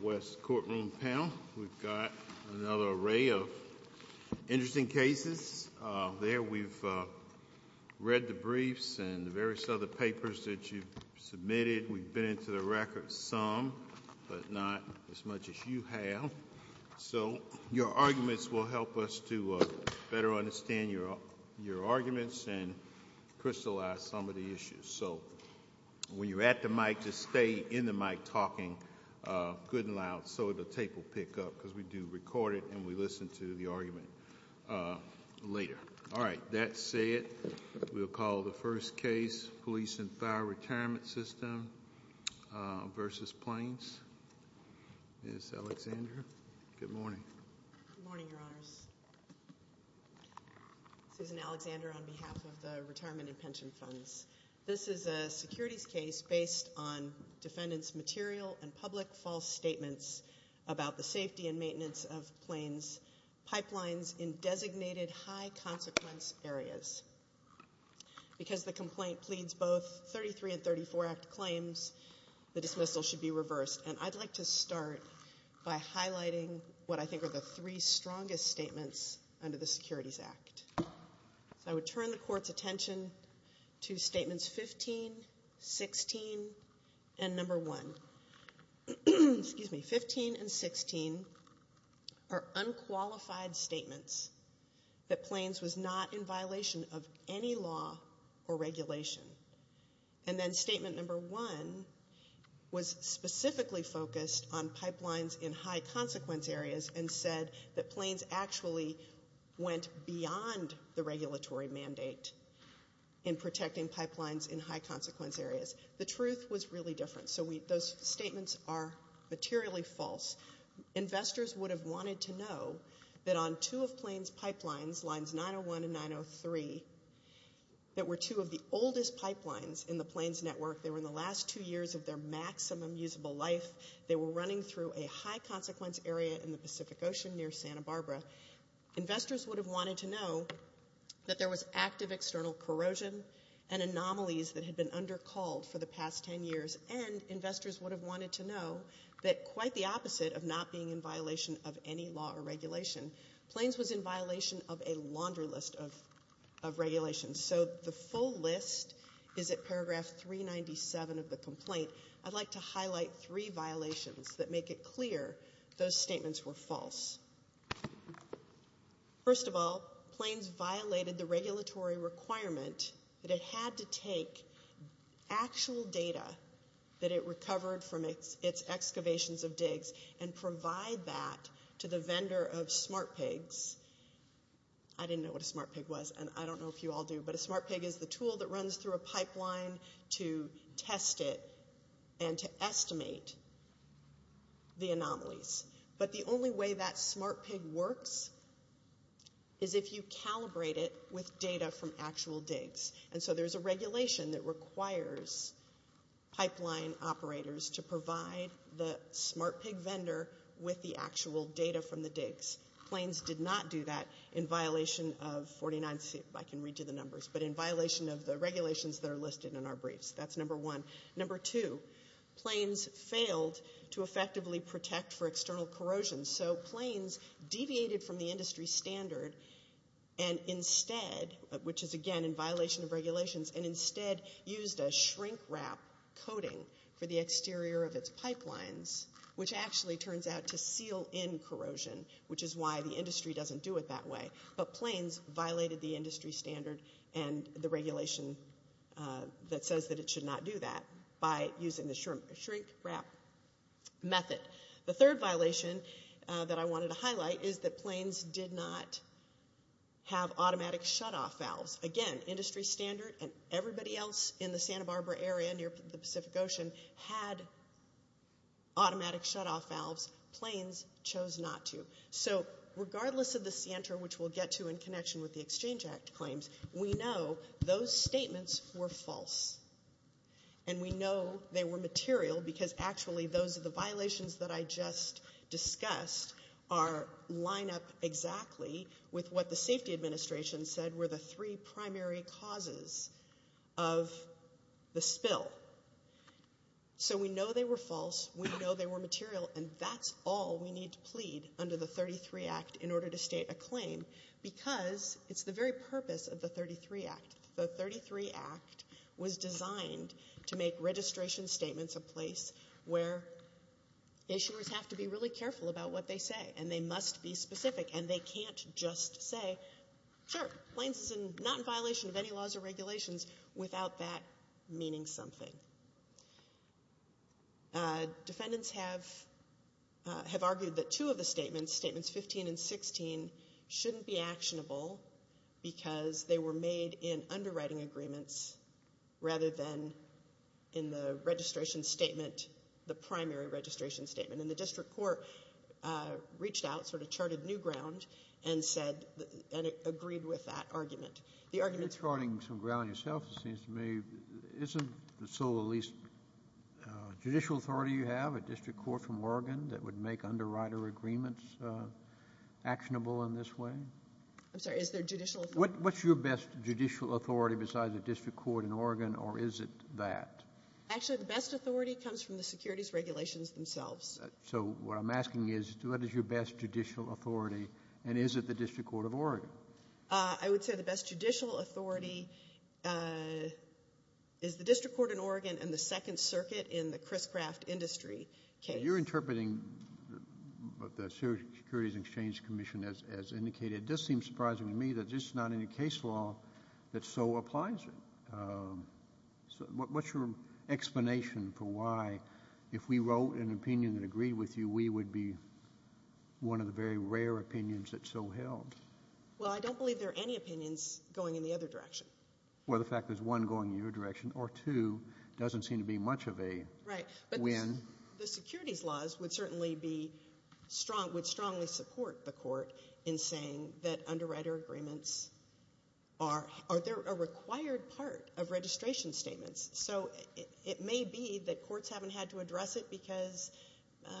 West courtroom panel. We've got another array of interesting cases. There we've read the briefs and the various other papers that you've submitted. We've been into the record some, but not as much as you have. So your arguments will help us to better understand your arguments and crystallize some of the issues. So when you're at the mic, just stay in the mic talking good and loud so the tape will pick up, because we do record it and we listen to the argument later. All right, that said, we'll call the first case, Police and Fire Retirement System v. Plains. Ms. Alexander, good morning. Good morning, Your Honors. Susan Alexander on behalf of the Retirement and Pension Funds. This is a securities case based on defendants' material and public false statements about the safety and maintenance of Plains pipelines in designated high consequence areas. Because the complaint pleads both 33 and 34 Act claims, the dismissal should be reversed. And I'd like to start by highlighting what I think are the three strongest statements under the Securities Act. So I would turn the Court's attention to Statements 15, 16, and Number 1. Excuse me, 15 and 16 are unqualified statements that Plains was not in violation of any law or regulation. And then Statement Number 1 was specifically focused on pipelines in high consequence areas and said that Plains actually went beyond the regulatory mandate in protecting pipelines in high consequence areas. The truth was really different. So those statements are materially false. Investors would have wanted to know that on two of Plains pipelines, Lines 901 and 903, that were two of the oldest pipelines in the Plains network. They were in the last two years of their maximum usable life. They were running through a high consequence area in the Pacific Ocean near Santa Barbara. Investors would have wanted to know that there was active external corrosion and anomalies that had been under called for the past 10 years. And investors would have wanted to know that quite the opposite of not being in violation of any law or regulation, Plains was in violation of a laundry list of regulations. So the full list is at paragraph 397 of the complaint. I'd like to highlight three violations that make it clear those statements were false. First of all, Plains violated the regulatory requirement that it had to take actual data that it recovered from its excavations of digs and provide that to the vendor of SmartPigs. I didn't know what a SmartPig was and I don't know if you all do, but a SmartPig is the tool that runs through a pipeline to test it and to estimate the anomalies. But the only way that SmartPig works is if you calibrate it with data from actual digs. And so there's a regulation that requires pipeline operators to provide the SmartPig vendor with the actual data from the digs. Plains did not do that in violation of 49, I can read you the numbers, but in violation of the regulations that are listed in our briefs. That's number one. Number two, Plains failed to effectively protect for external corrosion. So Plains deviated from the industry standard and instead, which is again in violation of regulations, and instead used a shrink wrap coating for the exterior of its pipelines, which actually turns out to seal in corrosion, which is why the industry doesn't do it that way. But Plains violated the industry standard and the regulation that says that it should not do that by using the shrink wrap method. The third violation that I wanted to highlight is that Plains did not have automatic shutoff valves. Again, industry standard and everybody else in the Santa Barbara area near the Pacific Ocean had automatic shutoff valves. Plains chose not to. So regardless of the Santa, which we'll get to in connection with the Exchange Act claims, we know those statements were false. And we know they were material because actually those are the violations that I just discussed are lined up exactly with what the safety administration said were the three primary causes of the spill. So we know they were false. We know they were material. And that's all we need to plead under the 33 Act in order to state a claim because it's the very purpose of the 33 Act. The 33 Act was designed to make registration statements a place where issuers have to be really careful about what they say. And they must be specific. And they can't just say, sure, Plains is not in violation of any laws or regulations without that meaning something. Defendants have argued that two of the statements, statements 15 and 16, shouldn't be actionable because they were made in underwriting agreements rather than in the registration statement, the primary registration statement. And the district court reached out, sort of charted new ground, and said and agreed with that argument. The argument's wrong. You're charting some ground yourself, it seems to me. Isn't the sole or least judicial authority you have a district court from Oregon that would make underwriter agreements actionable in this way? I'm sorry, is there judicial authority? What's your best judicial authority besides the district court in Oregon or is it that? Actually, the best authority comes from the securities regulations themselves. So what I'm asking is what is your best judicial authority and is it the district court of Oregon? I would say the best judicial authority is the district court in Oregon and the Second Circuit in the Criscraft Industry case. You're interpreting the Securities and Exchange Commission as indicated. It does seem surprising to me that this is not any case law that so applies it. What's your explanation for why, if we wrote an opinion that agreed with you, we would be one of the very rare opinions that so held? Well, I don't believe there are any opinions going in the other direction. Well, the fact there's one going in your direction or two doesn't seem to be much of a win. The securities laws would certainly strongly support the court in saying that underwriter agreements are a required part of registration statements. So it may be that courts haven't had to address it because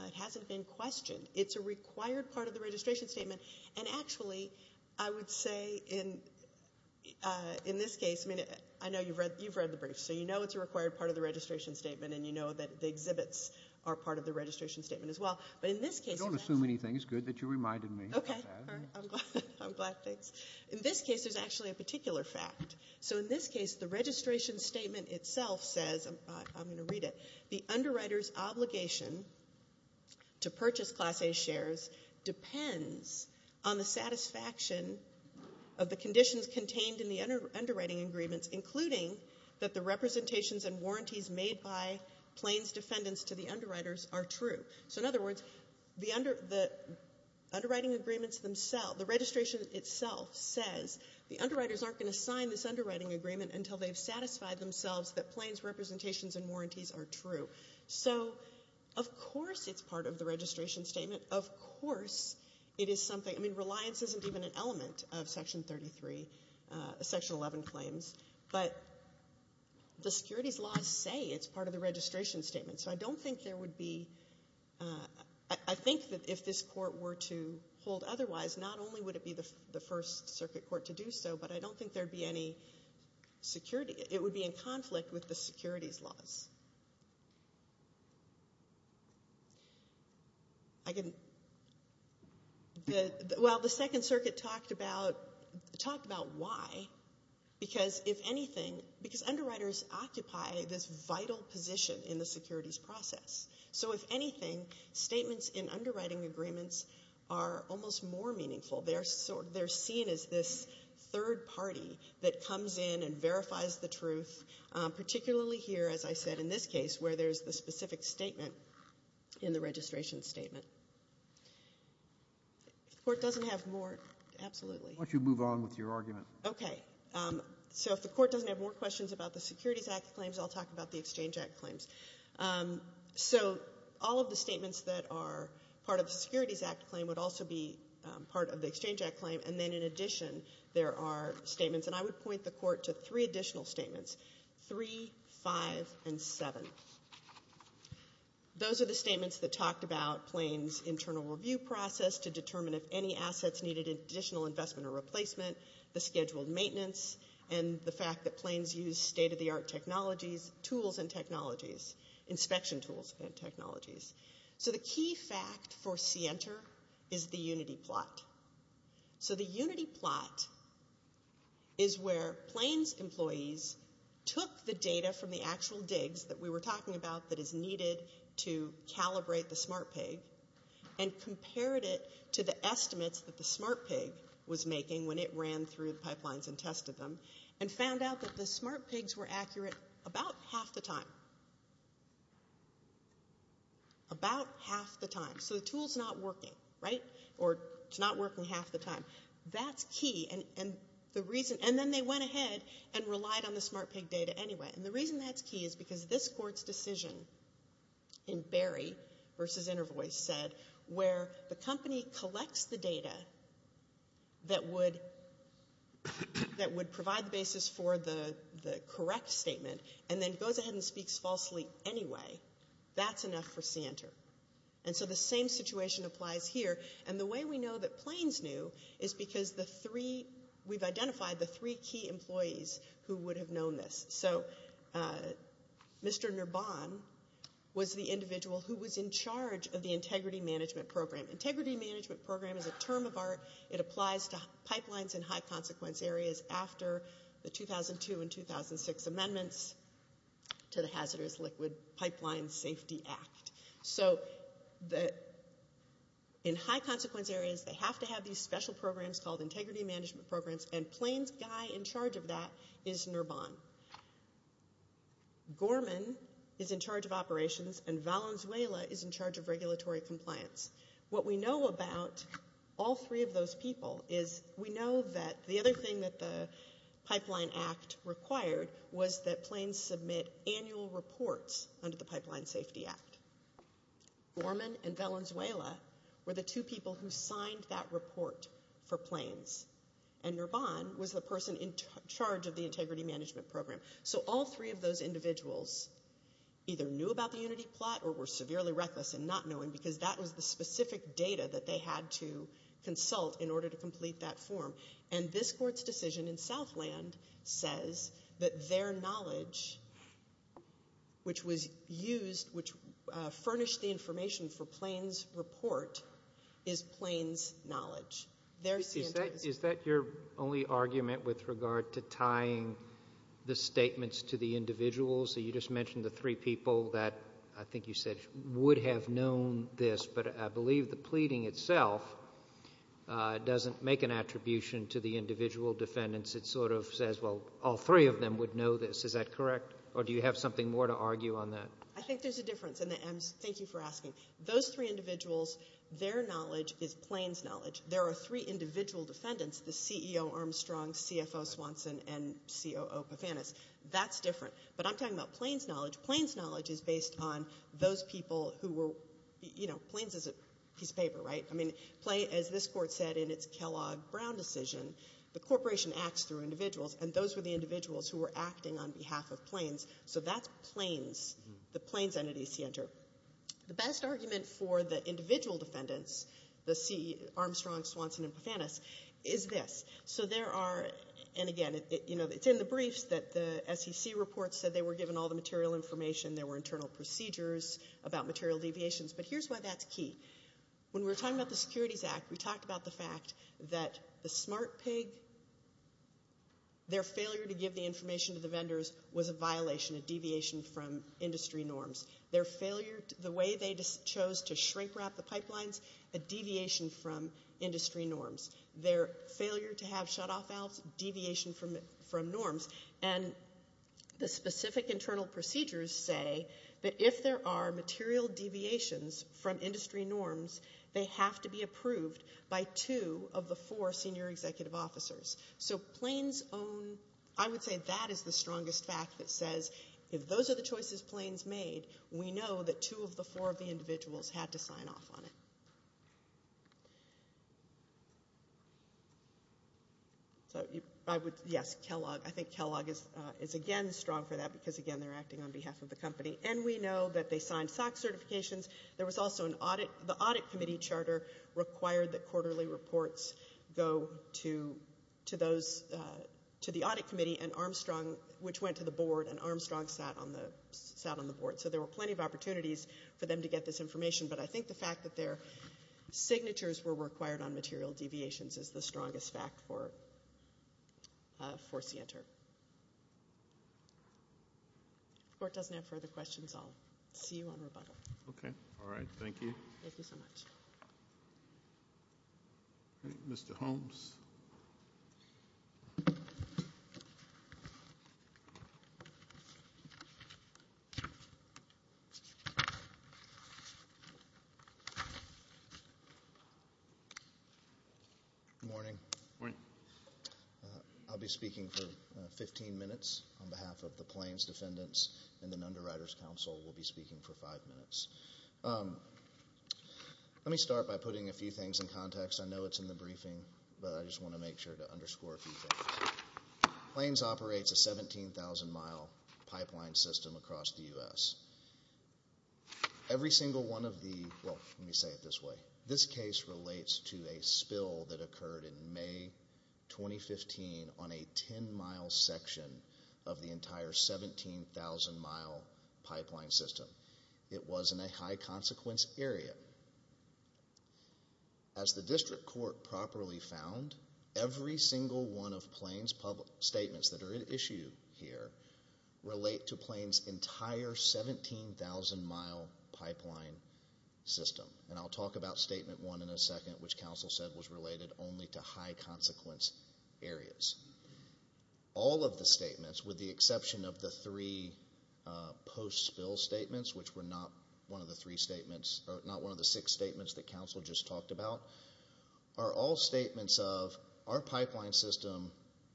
it hasn't been questioned. It's a required part of the registration statement. And actually, I would say in this case, I mean, I know you've read the brief, so you know it's a required part of the registration statement and you know that the exhibits are part of the registration statement as well. I don't assume anything. It's good that you reminded me. Okay. I'm glad. Thanks. In this case, there's actually a particular fact. So in this case, the registration statement itself says, I'm going to read it, the underwriter's obligation to purchase Class A shares depends on the satisfaction of the conditions contained in the underwriting agreements, including that the representations and warranties made by Plains defendants to the underwriters are true. So in other words, the underwriting agreements themselves, the registration itself says, the underwriters aren't going to sign this underwriting agreement until they've satisfied themselves that Plains representations and warranties are true. So of course it's part of the registration statement. Of course it is something, I mean, reliance isn't even an element of Section 33, Section 11 claims. But the securities laws say it's part of the registration statement. So I don't think there would be, I think that if this court were to hold otherwise, not only would it be the first circuit court to do so, but I don't think there would be any security, it would be in conflict with the securities laws. Well, the Second Circuit talked about why, because if anything, because underwriters occupy this vital position in the securities process. So if anything, statements in underwriting agreements are almost more meaningful. They're seen as this third party that comes in and verifies the truth, particularly here, as I said, in this case, where there's the specific statement in the registration statement. If the court doesn't have more, absolutely. Why don't you move on with your argument? Okay. So if the court doesn't have more questions about the Securities Act claims, I'll talk about the Exchange Act claims. So all of the statements that are part of the Securities Act claim would also be part of the Exchange Act claim. And then in addition, there are statements, and I would point the court to three additional statements, 3, 5, and 7. Those are the statements that talked about Plains' internal review process to determine if any assets needed additional investment or replacement, the scheduled maintenance, and the fact that Plains used state-of-the-art technologies, tools and technologies, inspection tools and technologies. So the key fact for CENTER is the unity plot. So the unity plot is where Plains employees took the data from the actual digs that we were talking about that is needed to calibrate the smart pig and compared it to the estimates that the smart pig was making when it ran through the pipelines and tested them and found out that the smart pigs were accurate about half the time. About half the time. So the tool's not working, right? Or it's not working half the time. That's key. And then they went ahead and relied on the smart pig data anyway. And the reason that's key is because this court's decision in Berry v. Intervoice said, where the company collects the data that would provide the basis for the correct statement and then goes ahead and speaks falsely anyway, that's enough for CENTER. And so the same situation applies here. And the way we know that Plains knew is because we've identified the three key employees who would have known this. So Mr. Nurbon was the individual who was in charge of the Integrity Management Program. Integrity Management Program is a term of art. It applies to pipelines in high-consequence areas after the 2002 and 2006 amendments to the Hazardous Liquid Pipeline Safety Act. So in high-consequence areas, they have to have these special programs called Integrity Management Programs, and Plains' guy in charge of that is Nurbon. Gorman is in charge of operations, and Valenzuela is in charge of regulatory compliance. What we know about all three of those people is we know that the other thing that the Pipeline Act required was that Plains submit annual reports under the Pipeline Safety Act. Gorman and Valenzuela were the two people who signed that report for Plains. And Nurbon was the person in charge of the Integrity Management Program. So all three of those individuals either knew about the unity plot or were severely reckless in not knowing because that was the specific data that they had to consult in order to complete that form. And this Court's decision in Southland says that their knowledge, which was used, which furnished the information for Plains' report, is Plains' knowledge. Is that your only argument with regard to tying the statements to the individuals? You just mentioned the three people that I think you said would have known this, but I believe the pleading itself doesn't make an attribution to the individual defendants. It sort of says, well, all three of them would know this. Is that correct, or do you have something more to argue on that? I think there's a difference, and thank you for asking. Those three individuals, their knowledge is Plains' knowledge. There are three individual defendants, the CEO Armstrong, CFO Swanson, and COO Pofanis. That's different. But I'm talking about Plains' knowledge. Plains' knowledge is based on those people who were, you know, Plains is a piece of paper, right? I mean, as this Court said in its Kellogg-Brown decision, the corporation acts through individuals, and those were the individuals who were acting on behalf of Plains. So that's Plains, the Plains entity center. The best argument for the individual defendants, the CEO Armstrong, Swanson, and Pofanis, is this. So there are, and again, you know, it's in the briefs that the SEC report said they were given all the material information. There were internal procedures about material deviations. But here's why that's key. When we were talking about the Securities Act, we talked about the fact that the smart pig, their failure to give the information to the vendors was a violation, a deviation from industry norms. Their failure, the way they chose to shrink wrap the pipelines, a deviation from industry norms. Their failure to have shutoff valves, deviation from norms. And the specific internal procedures say that if there are material deviations from industry norms, they have to be approved by two of the four senior executive officers. So Plains' own, I would say that is the strongest fact that says if those are the choices Plains made, we know that two of the four of the individuals had to sign off on it. So I would, yes, Kellogg. I think Kellogg is, again, strong for that because, again, they're acting on behalf of the company. And we know that they signed SOC certifications. There was also an audit. The audit committee charter required that quarterly reports go to those, to the audit committee, and Armstrong, which went to the board, and Armstrong sat on the board. So there were plenty of opportunities for them to get this information. But I think the fact that their signatures were required on material deviations is the strongest fact for Sienter. If the Court doesn't have further questions, I'll see you on rebuttal. Okay. All right. Thank you. Thank you so much. All right. Mr. Holmes. Good morning. Morning. I'll be speaking for 15 minutes on behalf of the Plains defendants, and then Underwriters Council will be speaking for five minutes. Let me start by putting a few things in context. I know it's in the briefing, but I just want to make sure to underscore a few things. Plains operates a 17,000-mile pipeline system across the U.S. Every single one of the, well, let me say it this way. This case relates to a spill that occurred in May 2015 on a 10-mile section of the entire 17,000-mile pipeline system. It was in a high-consequence area. As the district court properly found, every single one of Plains' statements that are at issue here relate to Plains' entire 17,000-mile pipeline system. And I'll talk about Statement 1 in a second, which counsel said was related only to high-consequence areas. All of the statements, with the exception of the three post-spill statements, which were not one of the six statements that counsel just talked about, are all statements of our pipeline system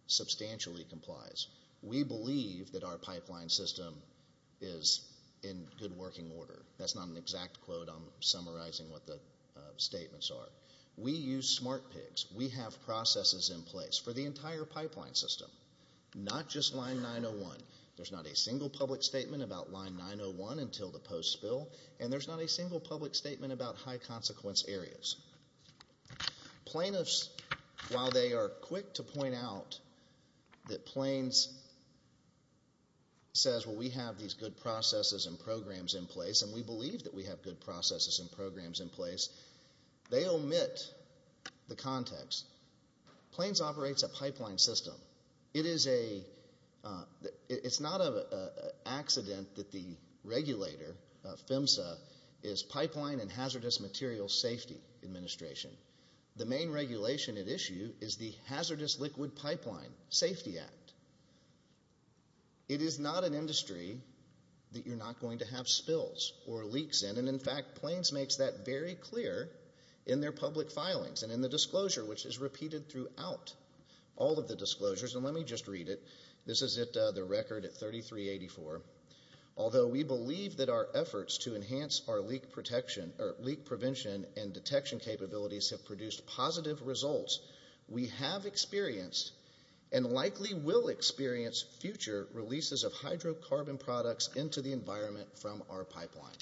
substantially complies. We believe that our pipeline system is in good working order. That's not an exact quote. I'm summarizing what the statements are. We use smart pigs. We have processes in place for the entire pipeline system, not just Line 901. There's not a single public statement about Line 901 until the post-spill, and there's not a single public statement about high-consequence areas. Plaintiffs, while they are quick to point out that Plains says, for example, we have these good processes and programs in place, and we believe that we have good processes and programs in place, they omit the context. Plains operates a pipeline system. It's not an accident that the regulator, PHMSA, is Pipeline and Hazardous Materials Safety Administration. The main regulation at issue is the Hazardous Liquid Pipeline Safety Act. It is not an industry that you're not going to have spills or leaks in. In fact, Plains makes that very clear in their public filings and in the disclosure, which is repeated throughout all of the disclosures. Let me just read it. This is the record at 3384. Although we believe that our efforts to enhance our leak prevention and detection capabilities have produced positive results, we have experienced and likely will experience future releases of hydrocarbon products into the environment from our pipeline.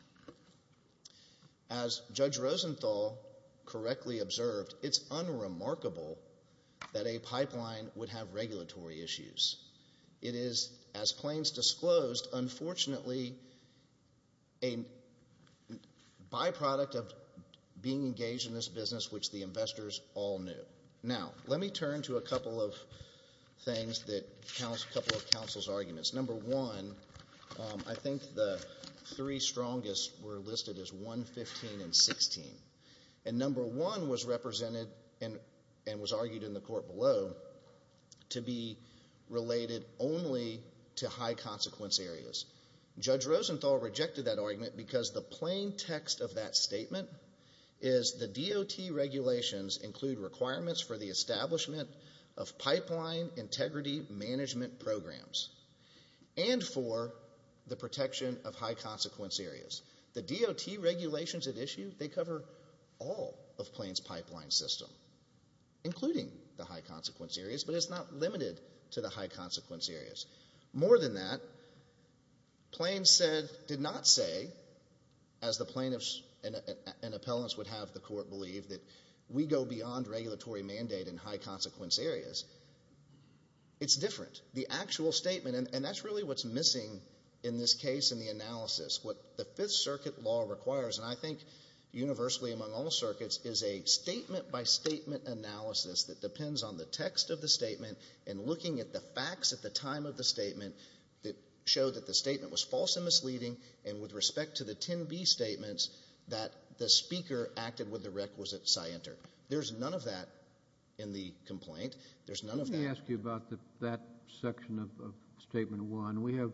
As Judge Rosenthal correctly observed, it's unremarkable that a pipeline would have regulatory issues. It is, as Plains disclosed, unfortunately a byproduct of being engaged in this business, which the investors all knew. Now, let me turn to a couple of counsel's arguments. Number one, I think the three strongest were listed as 1, 15, and 16. And number one was represented and was argued in the court below to be related only to high-consequence areas. Judge Rosenthal rejected that argument because the plain text of that statement is the DOT regulations include requirements for the establishment of pipeline integrity management programs and for the protection of high-consequence areas. The DOT regulations at issue, they cover all of Plains' pipeline system, including the high-consequence areas, but it's not limited to the high-consequence areas. More than that, Plains did not say, as the plaintiffs and appellants would have the court believe, that we go beyond regulatory mandate in high-consequence areas. It's different. The actual statement, and that's really what's missing in this case in the analysis, what the Fifth Circuit law requires, and I think universally among all circuits, is a statement-by-statement analysis that depends on the text of the statement and looking at the facts at the time of the statement that show that the statement was false and misleading and with respect to the 10B statements that the speaker acted with the requisite scienter. There's none of that in the complaint. There's none of that. Let me ask you about that section of Statement 1. We have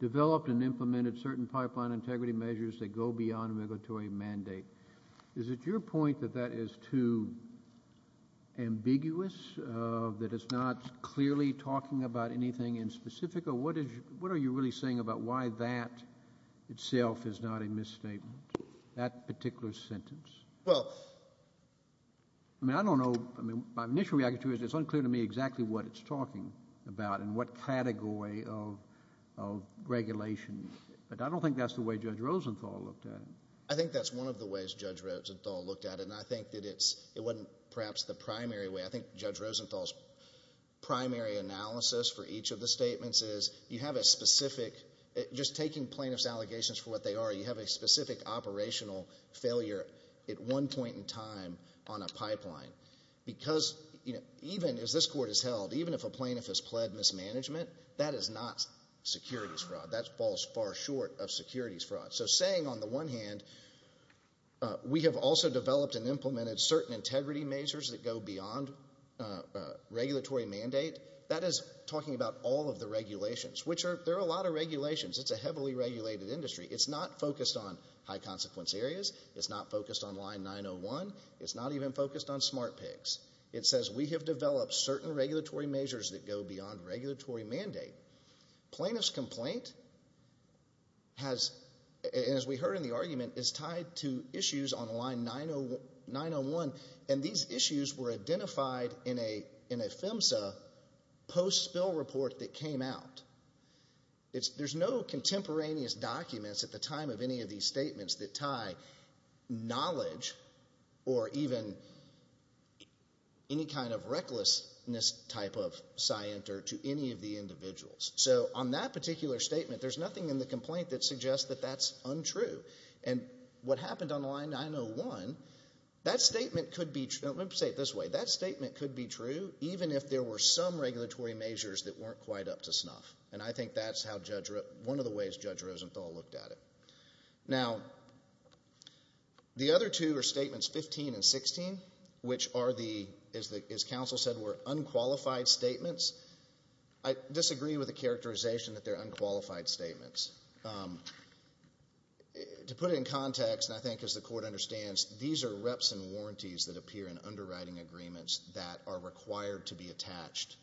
developed and implemented certain pipeline integrity measures that go beyond regulatory mandate. Is it your point that that is too ambiguous, that it's not clearly talking about anything in specific, or what are you really saying about why that itself is not a misstatement, that particular sentence? Well, I mean, I don't know. My initial reaction to it is it's unclear to me exactly what it's talking about and what category of regulation. But I don't think that's the way Judge Rosenthal looked at it. I think that's one of the ways Judge Rosenthal looked at it, and I think that it wasn't perhaps the primary way. I think Judge Rosenthal's primary analysis for each of the statements is you have a specific, just taking plaintiff's allegations for what they are, you have a specific operational failure at one point in time on a pipeline. Because even as this Court has held, even if a plaintiff has pled mismanagement, that is not securities fraud. That falls far short of securities fraud. So saying, on the one hand, we have also developed and implemented certain integrity measures that go beyond regulatory mandate, that is talking about all of the regulations, which there are a lot of regulations. It's a heavily regulated industry. It's not focused on high-consequence areas. It's not focused on line 901. It's not even focused on smart picks. It says we have developed certain regulatory measures that go beyond regulatory mandate. Plaintiff's complaint has, as we heard in the argument, is tied to issues on line 901, and these issues were identified in a PHMSA post-spill report that came out. There's no contemporaneous documents at the time of any of these statements that tie knowledge or even any kind of recklessness type of scienter to any of the individuals. So on that particular statement, there's nothing in the complaint that suggests that that's untrue. And what happened on line 901, that statement could be true. Let me say it this way. That statement could be true even if there were some regulatory measures that weren't quite up to snuff, and I think that's one of the ways Judge Rosenthal looked at it. Now, the other two are statements 15 and 16, which are the, as counsel said, were unqualified statements. I disagree with the characterization that they're unqualified statements. To put it in context, and I think as the court understands, these are reps and warranties that appear in underwriting agreements that are required to be attached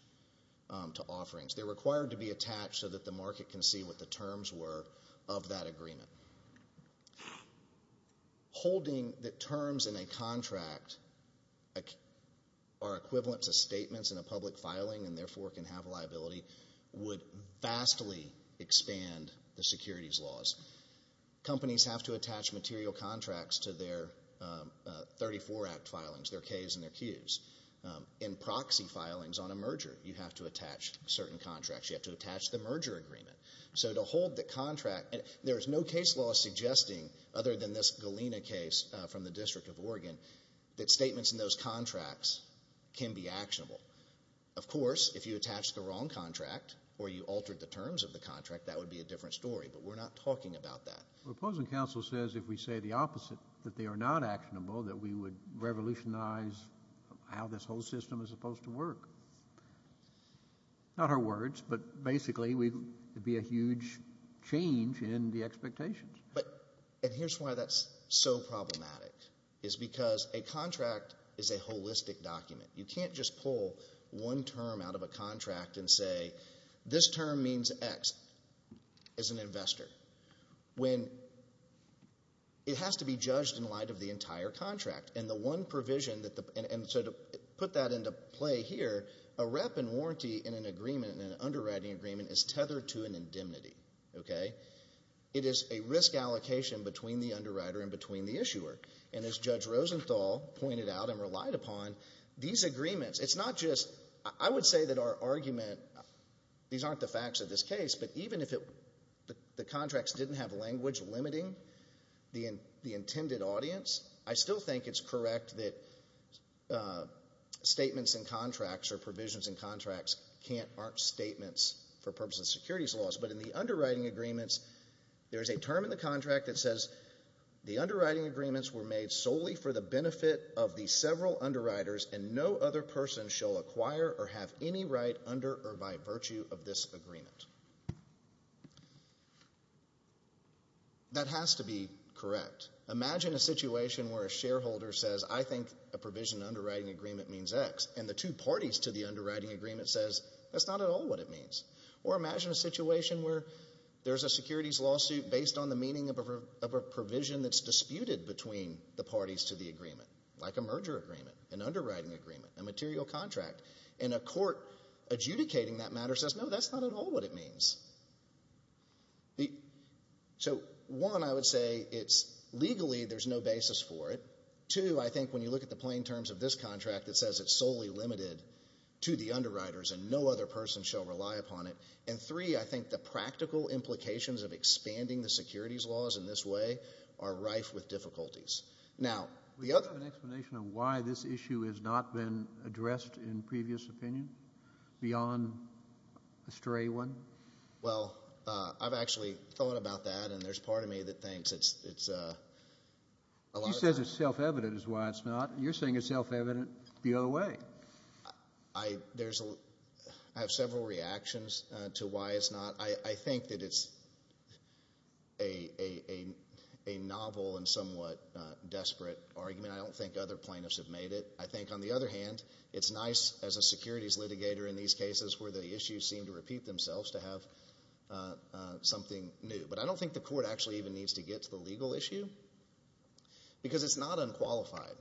to offerings. They're required to be attached so that the market can see what the terms were of that agreement. Holding the terms in a contract are equivalent to statements in a public filing and therefore can have liability would vastly expand the securities laws. Companies have to attach material contracts to their 34-Act filings, their Ks and their Qs. In proxy filings on a merger, you have to attach certain contracts. You have to attach the merger agreement. So to hold the contract, there is no case law suggesting other than this Galena case from the District of Oregon that statements in those contracts can be actionable. Of course, if you attach the wrong contract or you altered the terms of the contract, that would be a different story, but we're not talking about that. The opposing counsel says if we say the opposite, that they are not actionable, that we would revolutionize how this whole system is supposed to work. Not her words, but basically it would be a huge change in the expectations. And here's why that's so problematic is because a contract is a holistic document. You can't just pull one term out of a contract and say this term means X as an investor. It has to be judged in light of the entire contract. And the one provision, and so to put that into play here, a rep and warranty in an agreement, in an underwriting agreement, is tethered to an indemnity. It is a risk allocation between the underwriter and between the issuer. And as Judge Rosenthal pointed out and relied upon, these agreements, it's not just, I would say that our argument, these aren't the facts of this case, but even if the contracts didn't have language limiting the intended audience, I still think it's correct that statements in contracts or provisions in contracts aren't statements for purposes of securities laws. But in the underwriting agreements, there's a term in the contract that says the underwriting agreements were made solely for the benefit of the several underwriters and no other person shall acquire or have any right under or by virtue of this agreement. That has to be correct. Imagine a situation where a shareholder says I think a provision underwriting agreement means X and the two parties to the underwriting agreement says that's not at all what it means. Or imagine a situation where there's a securities lawsuit based on the meaning of a provision that's disputed between the parties to the agreement, like a merger agreement, an underwriting agreement, a material contract, and a court adjudicating that matter says no, that's not at all what it means. So one, I would say it's legally there's no basis for it. Two, I think when you look at the plain terms of this contract, it says it's solely limited to the underwriters and no other person shall rely upon it. And three, I think the practical implications of expanding the securities laws in this way are rife with difficulties. We don't have an explanation of why this issue has not been addressed in previous opinions beyond a stray one? Well, I've actually thought about that, and there's part of me that thinks it's a lot of time. He says it's self-evident is why it's not. You're saying it's self-evident the other way. I have several reactions to why it's not. I think that it's a novel and somewhat desperate argument. I don't think other plaintiffs have made it. I think, on the other hand, it's nice as a securities litigator in these cases where the issues seem to repeat themselves to have something new. But I don't think the court actually even needs to get to the legal issue because it's not unqualified.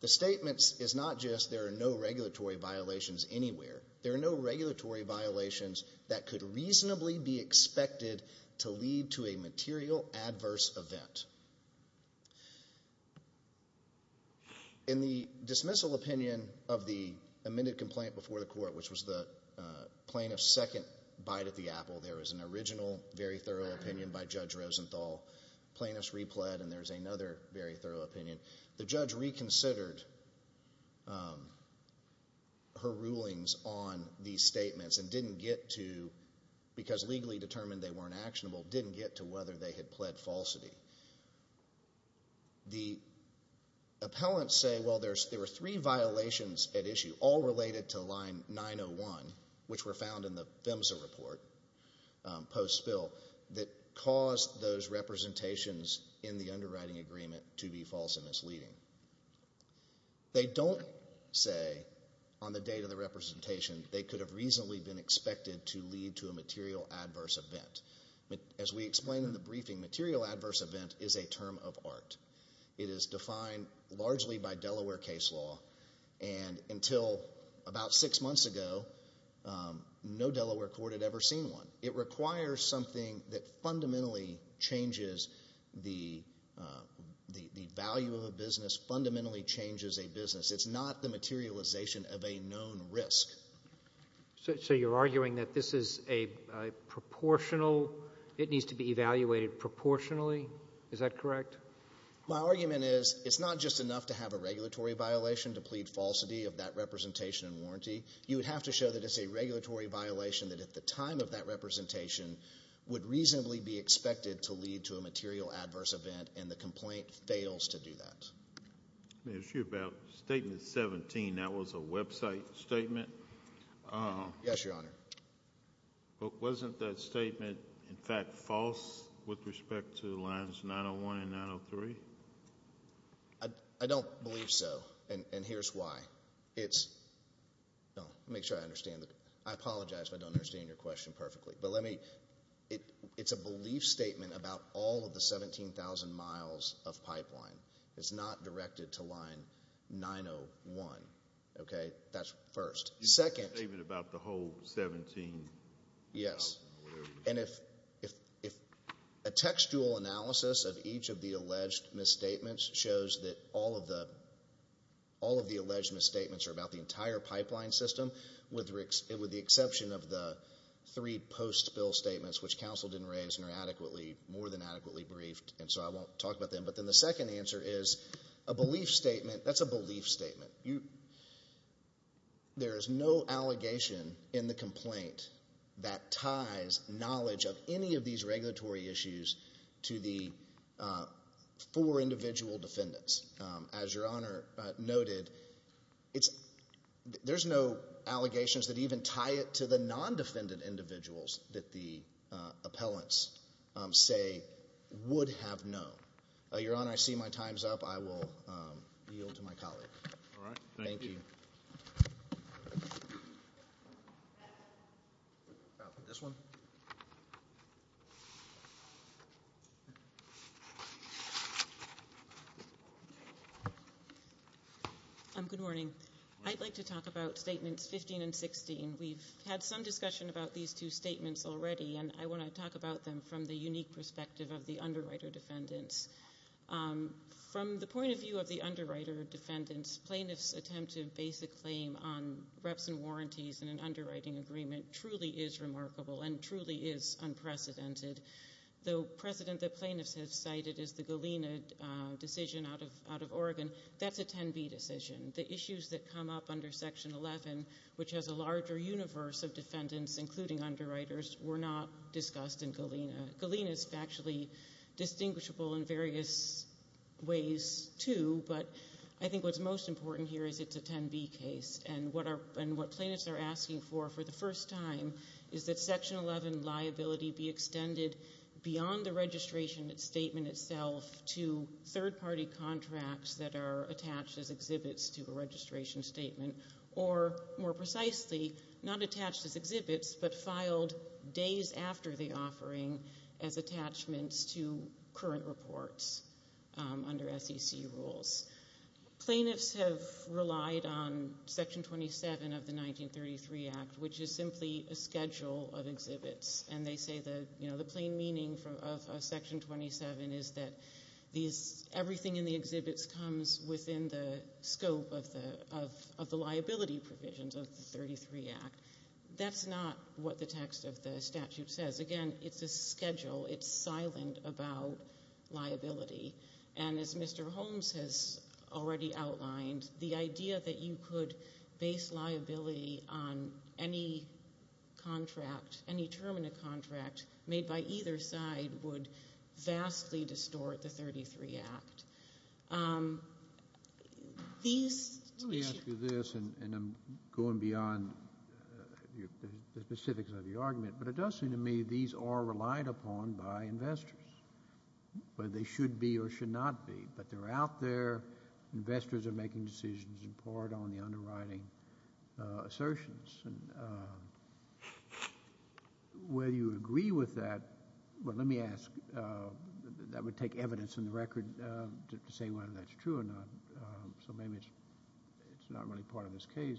The statement is not just there are no regulatory violations anywhere. There are no regulatory violations that could reasonably be expected to lead to a material adverse event. In the dismissal opinion of the amended complaint before the court, which was the plaintiff's second bite at the apple, there was an original very thorough opinion by Judge Rosenthal. The plaintiff's repled, and there's another very thorough opinion. The judge reconsidered her rulings on these statements and didn't get to, because legally determined they weren't actionable, didn't get to whether they had pled falsity. The appellants say, well, there were three violations at issue, all related to line 901, which were found in the PHMSA report post-spill, that caused those representations in the underwriting agreement to be false and misleading. They don't say on the date of the representation they could have reasonably been expected to lead to a material adverse event. As we explained in the briefing, material adverse event is a term of art. It is defined largely by Delaware case law, and until about six months ago, no Delaware court had ever seen one. It requires something that fundamentally changes the value of a business, fundamentally changes a business. It's not the materialization of a known risk. So you're arguing that this is a proportional, it needs to be evaluated proportionally. Is that correct? My argument is it's not just enough to have a regulatory violation to plead falsity of that representation and warranty. You would have to show that it's a regulatory violation that at the time of that representation would reasonably be expected to lead to a material adverse event, and the complaint fails to do that. May I ask you about Statement 17? That was a website statement. Yes, Your Honor. Wasn't that statement, in fact, false with respect to lines 901 and 903? I don't believe so, and here's why. Let me make sure I understand. I apologize if I don't understand your question perfectly, but it's a belief statement about all of the 17,000 miles of pipeline. It's not directed to line 901, okay? That's first. It's a statement about the whole 17 miles. Yes, and if a textual analysis of each of the alleged misstatements shows that all of the alleged misstatements are about the entire pipeline system, with the exception of the three post-bill statements, which counsel didn't raise and are more than adequately briefed, and so I won't talk about them. But then the second answer is a belief statement. That's a belief statement. There is no allegation in the complaint that ties knowledge of any of these regulatory issues to the four individual defendants. As Your Honor noted, there's no allegations that even tie it to the non-defendant individuals that the appellants say would have known. Your Honor, I see my time's up. I will yield to my colleague. All right, thank you. Thank you. This one? Good morning. I'd like to talk about Statements 15 and 16. We've had some discussion about these two statements already, and I want to talk about them from the unique perspective of the underwriter defendants. From the point of view of the underwriter defendants, plaintiffs' attempt to base a claim on reps and warranties in an underwriting agreement truly is remarkable and truly is unprecedented. The precedent that plaintiffs have cited is the Galena decision out of Oregon. That's a 10-B decision. The issues that come up under Section 11, which has a larger universe of defendants, including underwriters, were not discussed in Galena. Galena is factually distinguishable in various ways, too, but I think what's most important here is it's a 10-B case, and what plaintiffs are asking for, for the first time, is that Section 11 liability be extended beyond the registration statement itself to third-party contracts that are attached as exhibits to a registration statement, or, more precisely, not attached as exhibits, but filed days after the offering as attachments to current reports under SEC rules. Plaintiffs have relied on Section 27 of the 1933 Act, which is simply a schedule of exhibits, and they say the plain meaning of Section 27 is that everything in the exhibits comes within the scope of the liability provisions of the 1933 Act. That's not what the text of the statute says. Again, it's a schedule. It's silent about liability. And as Mr. Holmes has already outlined, the idea that you could base liability on any contract, any term in a contract made by either side would vastly distort the 1933 Act. Let me ask you this, and I'm going beyond the specifics of the argument, but it does seem to me these are relied upon by investors, whether they should be or should not be. But they're out there. Investors are making decisions in part on the underwriting assertions. Whether you agree with that, well, let me ask. That would take evidence in the record to say whether that's true or not. So maybe it's not really part of this case.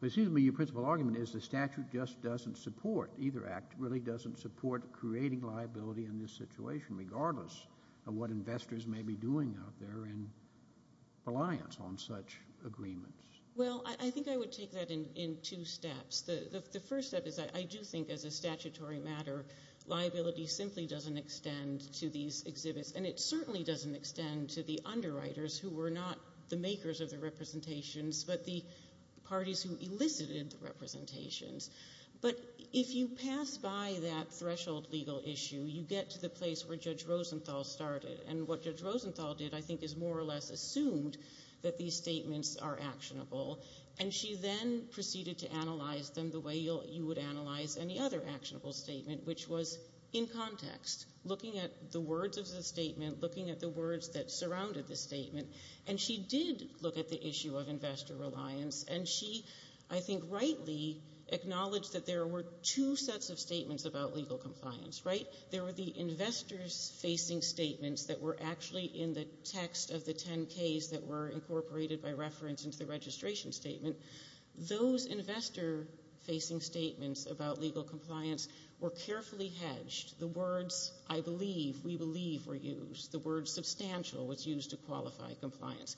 But it seems to me your principal argument is the statute just doesn't support, either Act really doesn't support creating liability in this situation, regardless of what investors may be doing out there in reliance on such agreements. Well, I think I would take that in two steps. The first step is I do think, as a statutory matter, liability simply doesn't extend to these exhibits. And it certainly doesn't extend to the underwriters, who were not the makers of the representations, but the parties who elicited the representations. But if you pass by that threshold legal issue, you get to the place where Judge Rosenthal started. And what Judge Rosenthal did, I think, is more or less assumed that these statements are actionable. And she then proceeded to analyze them the way you would analyze any other actionable statement, which was in context, looking at the words of the statement, looking at the words that surrounded the statement. And she did look at the issue of investor reliance. And she, I think rightly, acknowledged that there were two sets of statements about legal compliance, right? There were the investors-facing statements that were actually in the text of the 10-Ks that were incorporated by reference into the registration statement. Those investor-facing statements about legal compliance were carefully hedged. The words, I believe, we believe, were used. The word substantial was used to qualify compliance.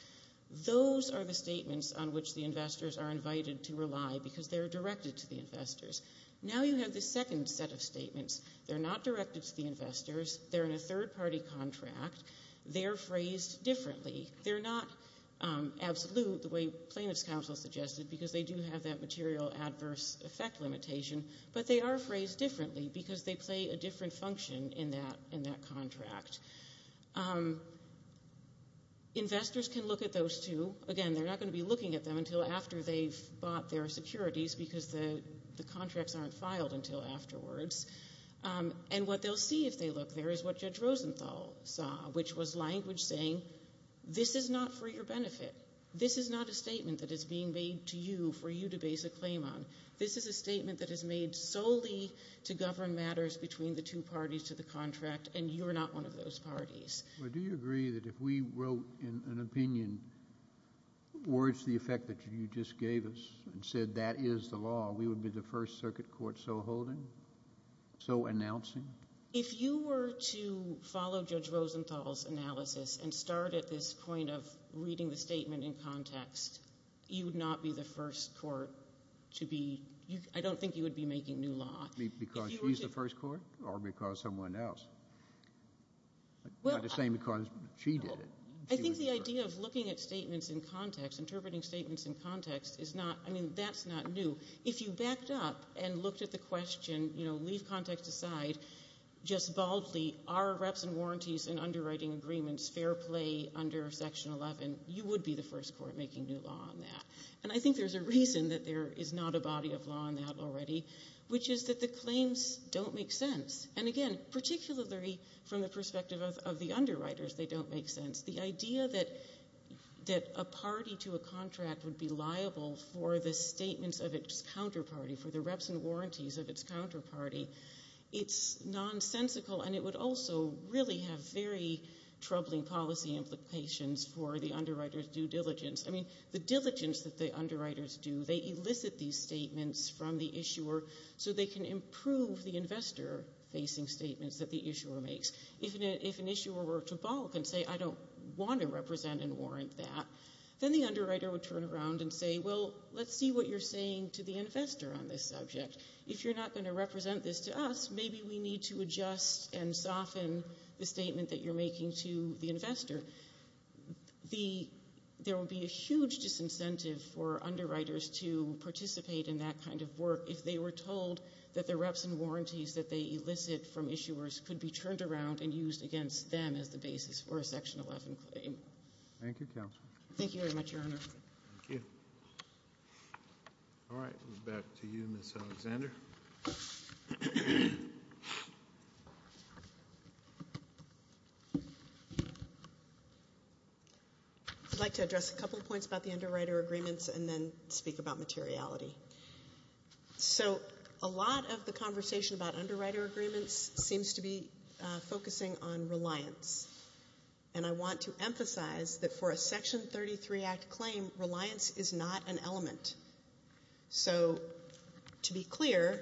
Those are the statements on which the investors are invited to rely, because they're directed to the investors. Now you have the second set of statements. They're not directed to the investors. They're in a third-party contract. They're phrased differently. They're not absolute, the way plaintiff's counsel suggested, because they do have that material adverse effect limitation. But they are phrased differently because they play a different function in that contract. Investors can look at those, too. Again, they're not going to be looking at them until after they've bought their securities, because the contracts aren't filed until afterwards. And what they'll see if they look there is what Judge Rosenthal saw, which was language saying, this is not for your benefit. This is not a statement that is being made to you for you to base a claim on. This is a statement that is made solely to govern matters between the two parties to the contract, and you are not one of those parties. Do you agree that if we wrote an opinion towards the effect that you just gave us and said that is the law, we would be the first circuit court so holding, so announcing? If you were to follow Judge Rosenthal's analysis and start at this point of reading the statement in context, you would not be the first court to be ‑‑I don't think you would be making new law. Because she's the first court or because someone else? Not the same because she did it. I think the idea of looking at statements in context, interpreting statements in context, that's not new. If you backed up and looked at the question, leave context aside, just baldly are reps and warranties and underwriting agreements fair play under Section 11? You would be the first court making new law on that. And I think there's a reason that there is not a body of law on that already, which is that the claims don't make sense. And, again, particularly from the perspective of the underwriters, they don't make sense. The idea that a party to a contract would be liable for the statements of its counterparty, for the reps and warranties of its counterparty, it's nonsensical and it would also really have very troubling policy implications for the underwriters' due diligence. I mean, the diligence that the underwriters do, they elicit these statements from the issuer so they can improve the investor‑facing statements that the issuer makes. If an issuer were to balk and say, I don't want to represent and warrant that, then the underwriter would turn around and say, well, let's see what you're saying to the investor on this subject. If you're not going to represent this to us, maybe we need to adjust and soften the statement that you're making to the investor. There would be a huge disincentive for underwriters to participate in that kind of work if they were told that the reps and warranties that they elicit from issuers could be turned around and used against them as the basis for a Section 11 claim. Thank you, Counsel. Thank you very much, Your Honor. Thank you. All right. Back to you, Ms. Alexander. Thank you, Your Honor. I'd like to address a couple points about the underwriter agreements and then speak about materiality. So a lot of the conversation about underwriter agreements seems to be focusing on reliance, and I want to emphasize that for a Section 33 Act claim, reliance is not an element. So to be clear,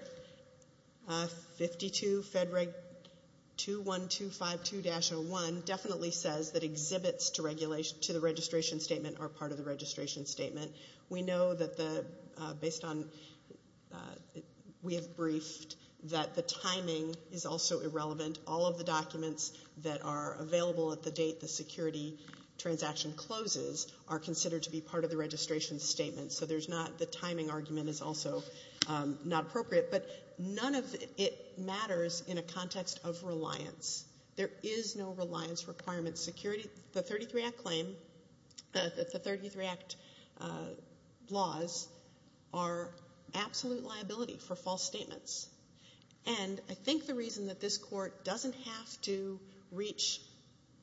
52 Fed Reg 21252-01 definitely says that exhibits to the registration statement are part of the registration statement. We know that based on what we have briefed that the timing is also irrelevant. All of the documents that are available at the date the security transaction closes are considered to be part of the registration statement. So the timing argument is also not appropriate. But none of it matters in a context of reliance. There is no reliance requirement. The 33 Act laws are absolute liability for false statements. And I think the reason that this Court doesn't have to reach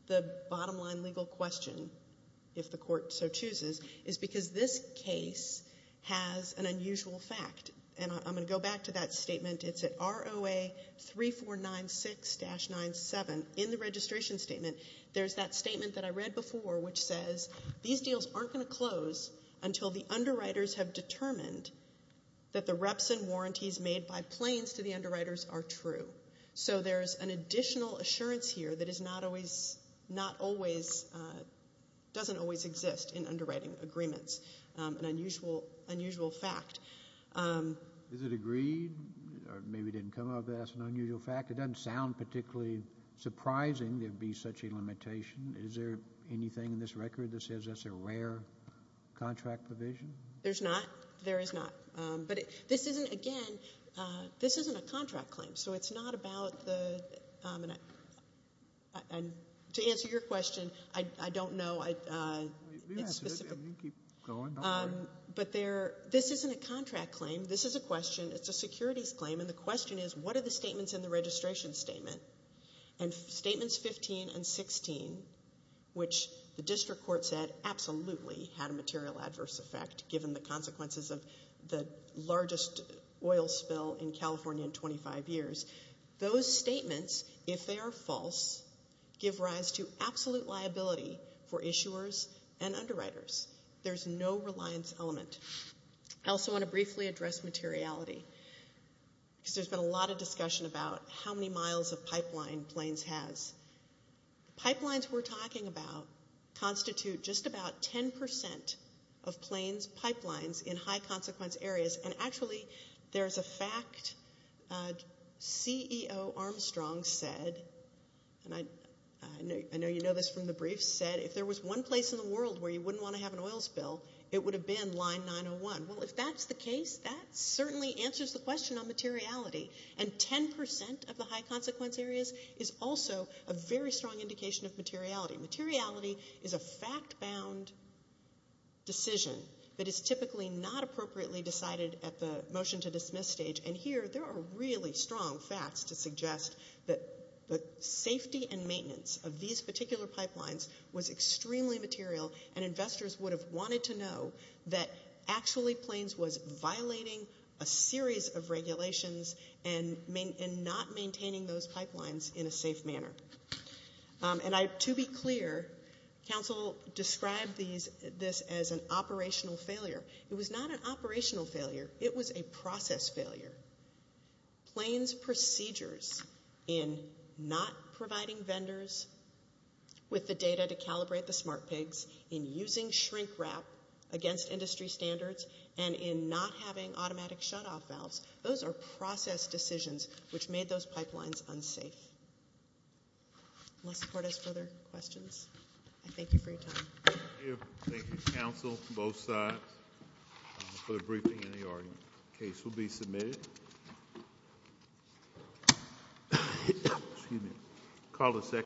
the bottom line legal question, if the Court so chooses, is because this case has an unusual fact. And I'm going to go back to that statement. It's at ROA 3496-97. In the registration statement, there's that statement that I read before which says, these deals aren't going to close until the underwriters have determined that the reps and warranties made by planes to the underwriters are true. So there's an additional assurance here that doesn't always exist in underwriting agreements, an unusual fact. Is it agreed, or maybe it didn't come up as an unusual fact? It doesn't sound particularly surprising there would be such a limitation. Is there anything in this record that says that's a rare contract provision? There's not. There is not. But this isn't, again, this isn't a contract claim. So it's not about the, and to answer your question, I don't know. You can keep going. But this isn't a contract claim. This is a question. It's a securities claim. And the question is, what are the statements in the registration statement? And Statements 15 and 16, which the District Court said absolutely had a material adverse effect, given the consequences of the largest oil spill in California in 25 years. Those statements, if they are false, give rise to absolute liability for issuers and underwriters. There's no reliance element. I also want to briefly address materiality. Because there's been a lot of discussion about how many miles of pipeline planes has. Pipelines we're talking about constitute just about 10% of planes pipelines in high consequence areas. And, actually, there's a fact CEO Armstrong said, and I know you know this from the brief, said if there was one place in the world where you wouldn't want to have an oil spill, it would have been Line 901. Well, if that's the case, that certainly answers the question on materiality. And 10% of the high consequence areas is also a very strong indication of materiality. Materiality is a fact-bound decision that is typically not appropriately decided at the motion-to-dismiss stage. And here there are really strong facts to suggest that the safety and maintenance of these particular pipelines was extremely material. And investors would have wanted to know that actually planes was violating a series of regulations and not maintaining those pipelines in a safe manner. And to be clear, counsel described this as an operational failure. It was not an operational failure. It was a process failure. Planes procedures in not providing vendors with the data to calibrate the smart pigs, in using shrink wrap against industry standards, and in not having automatic shutoff valves, those are process decisions which made those pipelines unsafe. Unless the court has further questions, I thank you for your time. Thank you, counsel, from both sides, for the briefing and the argument. The case will be submitted.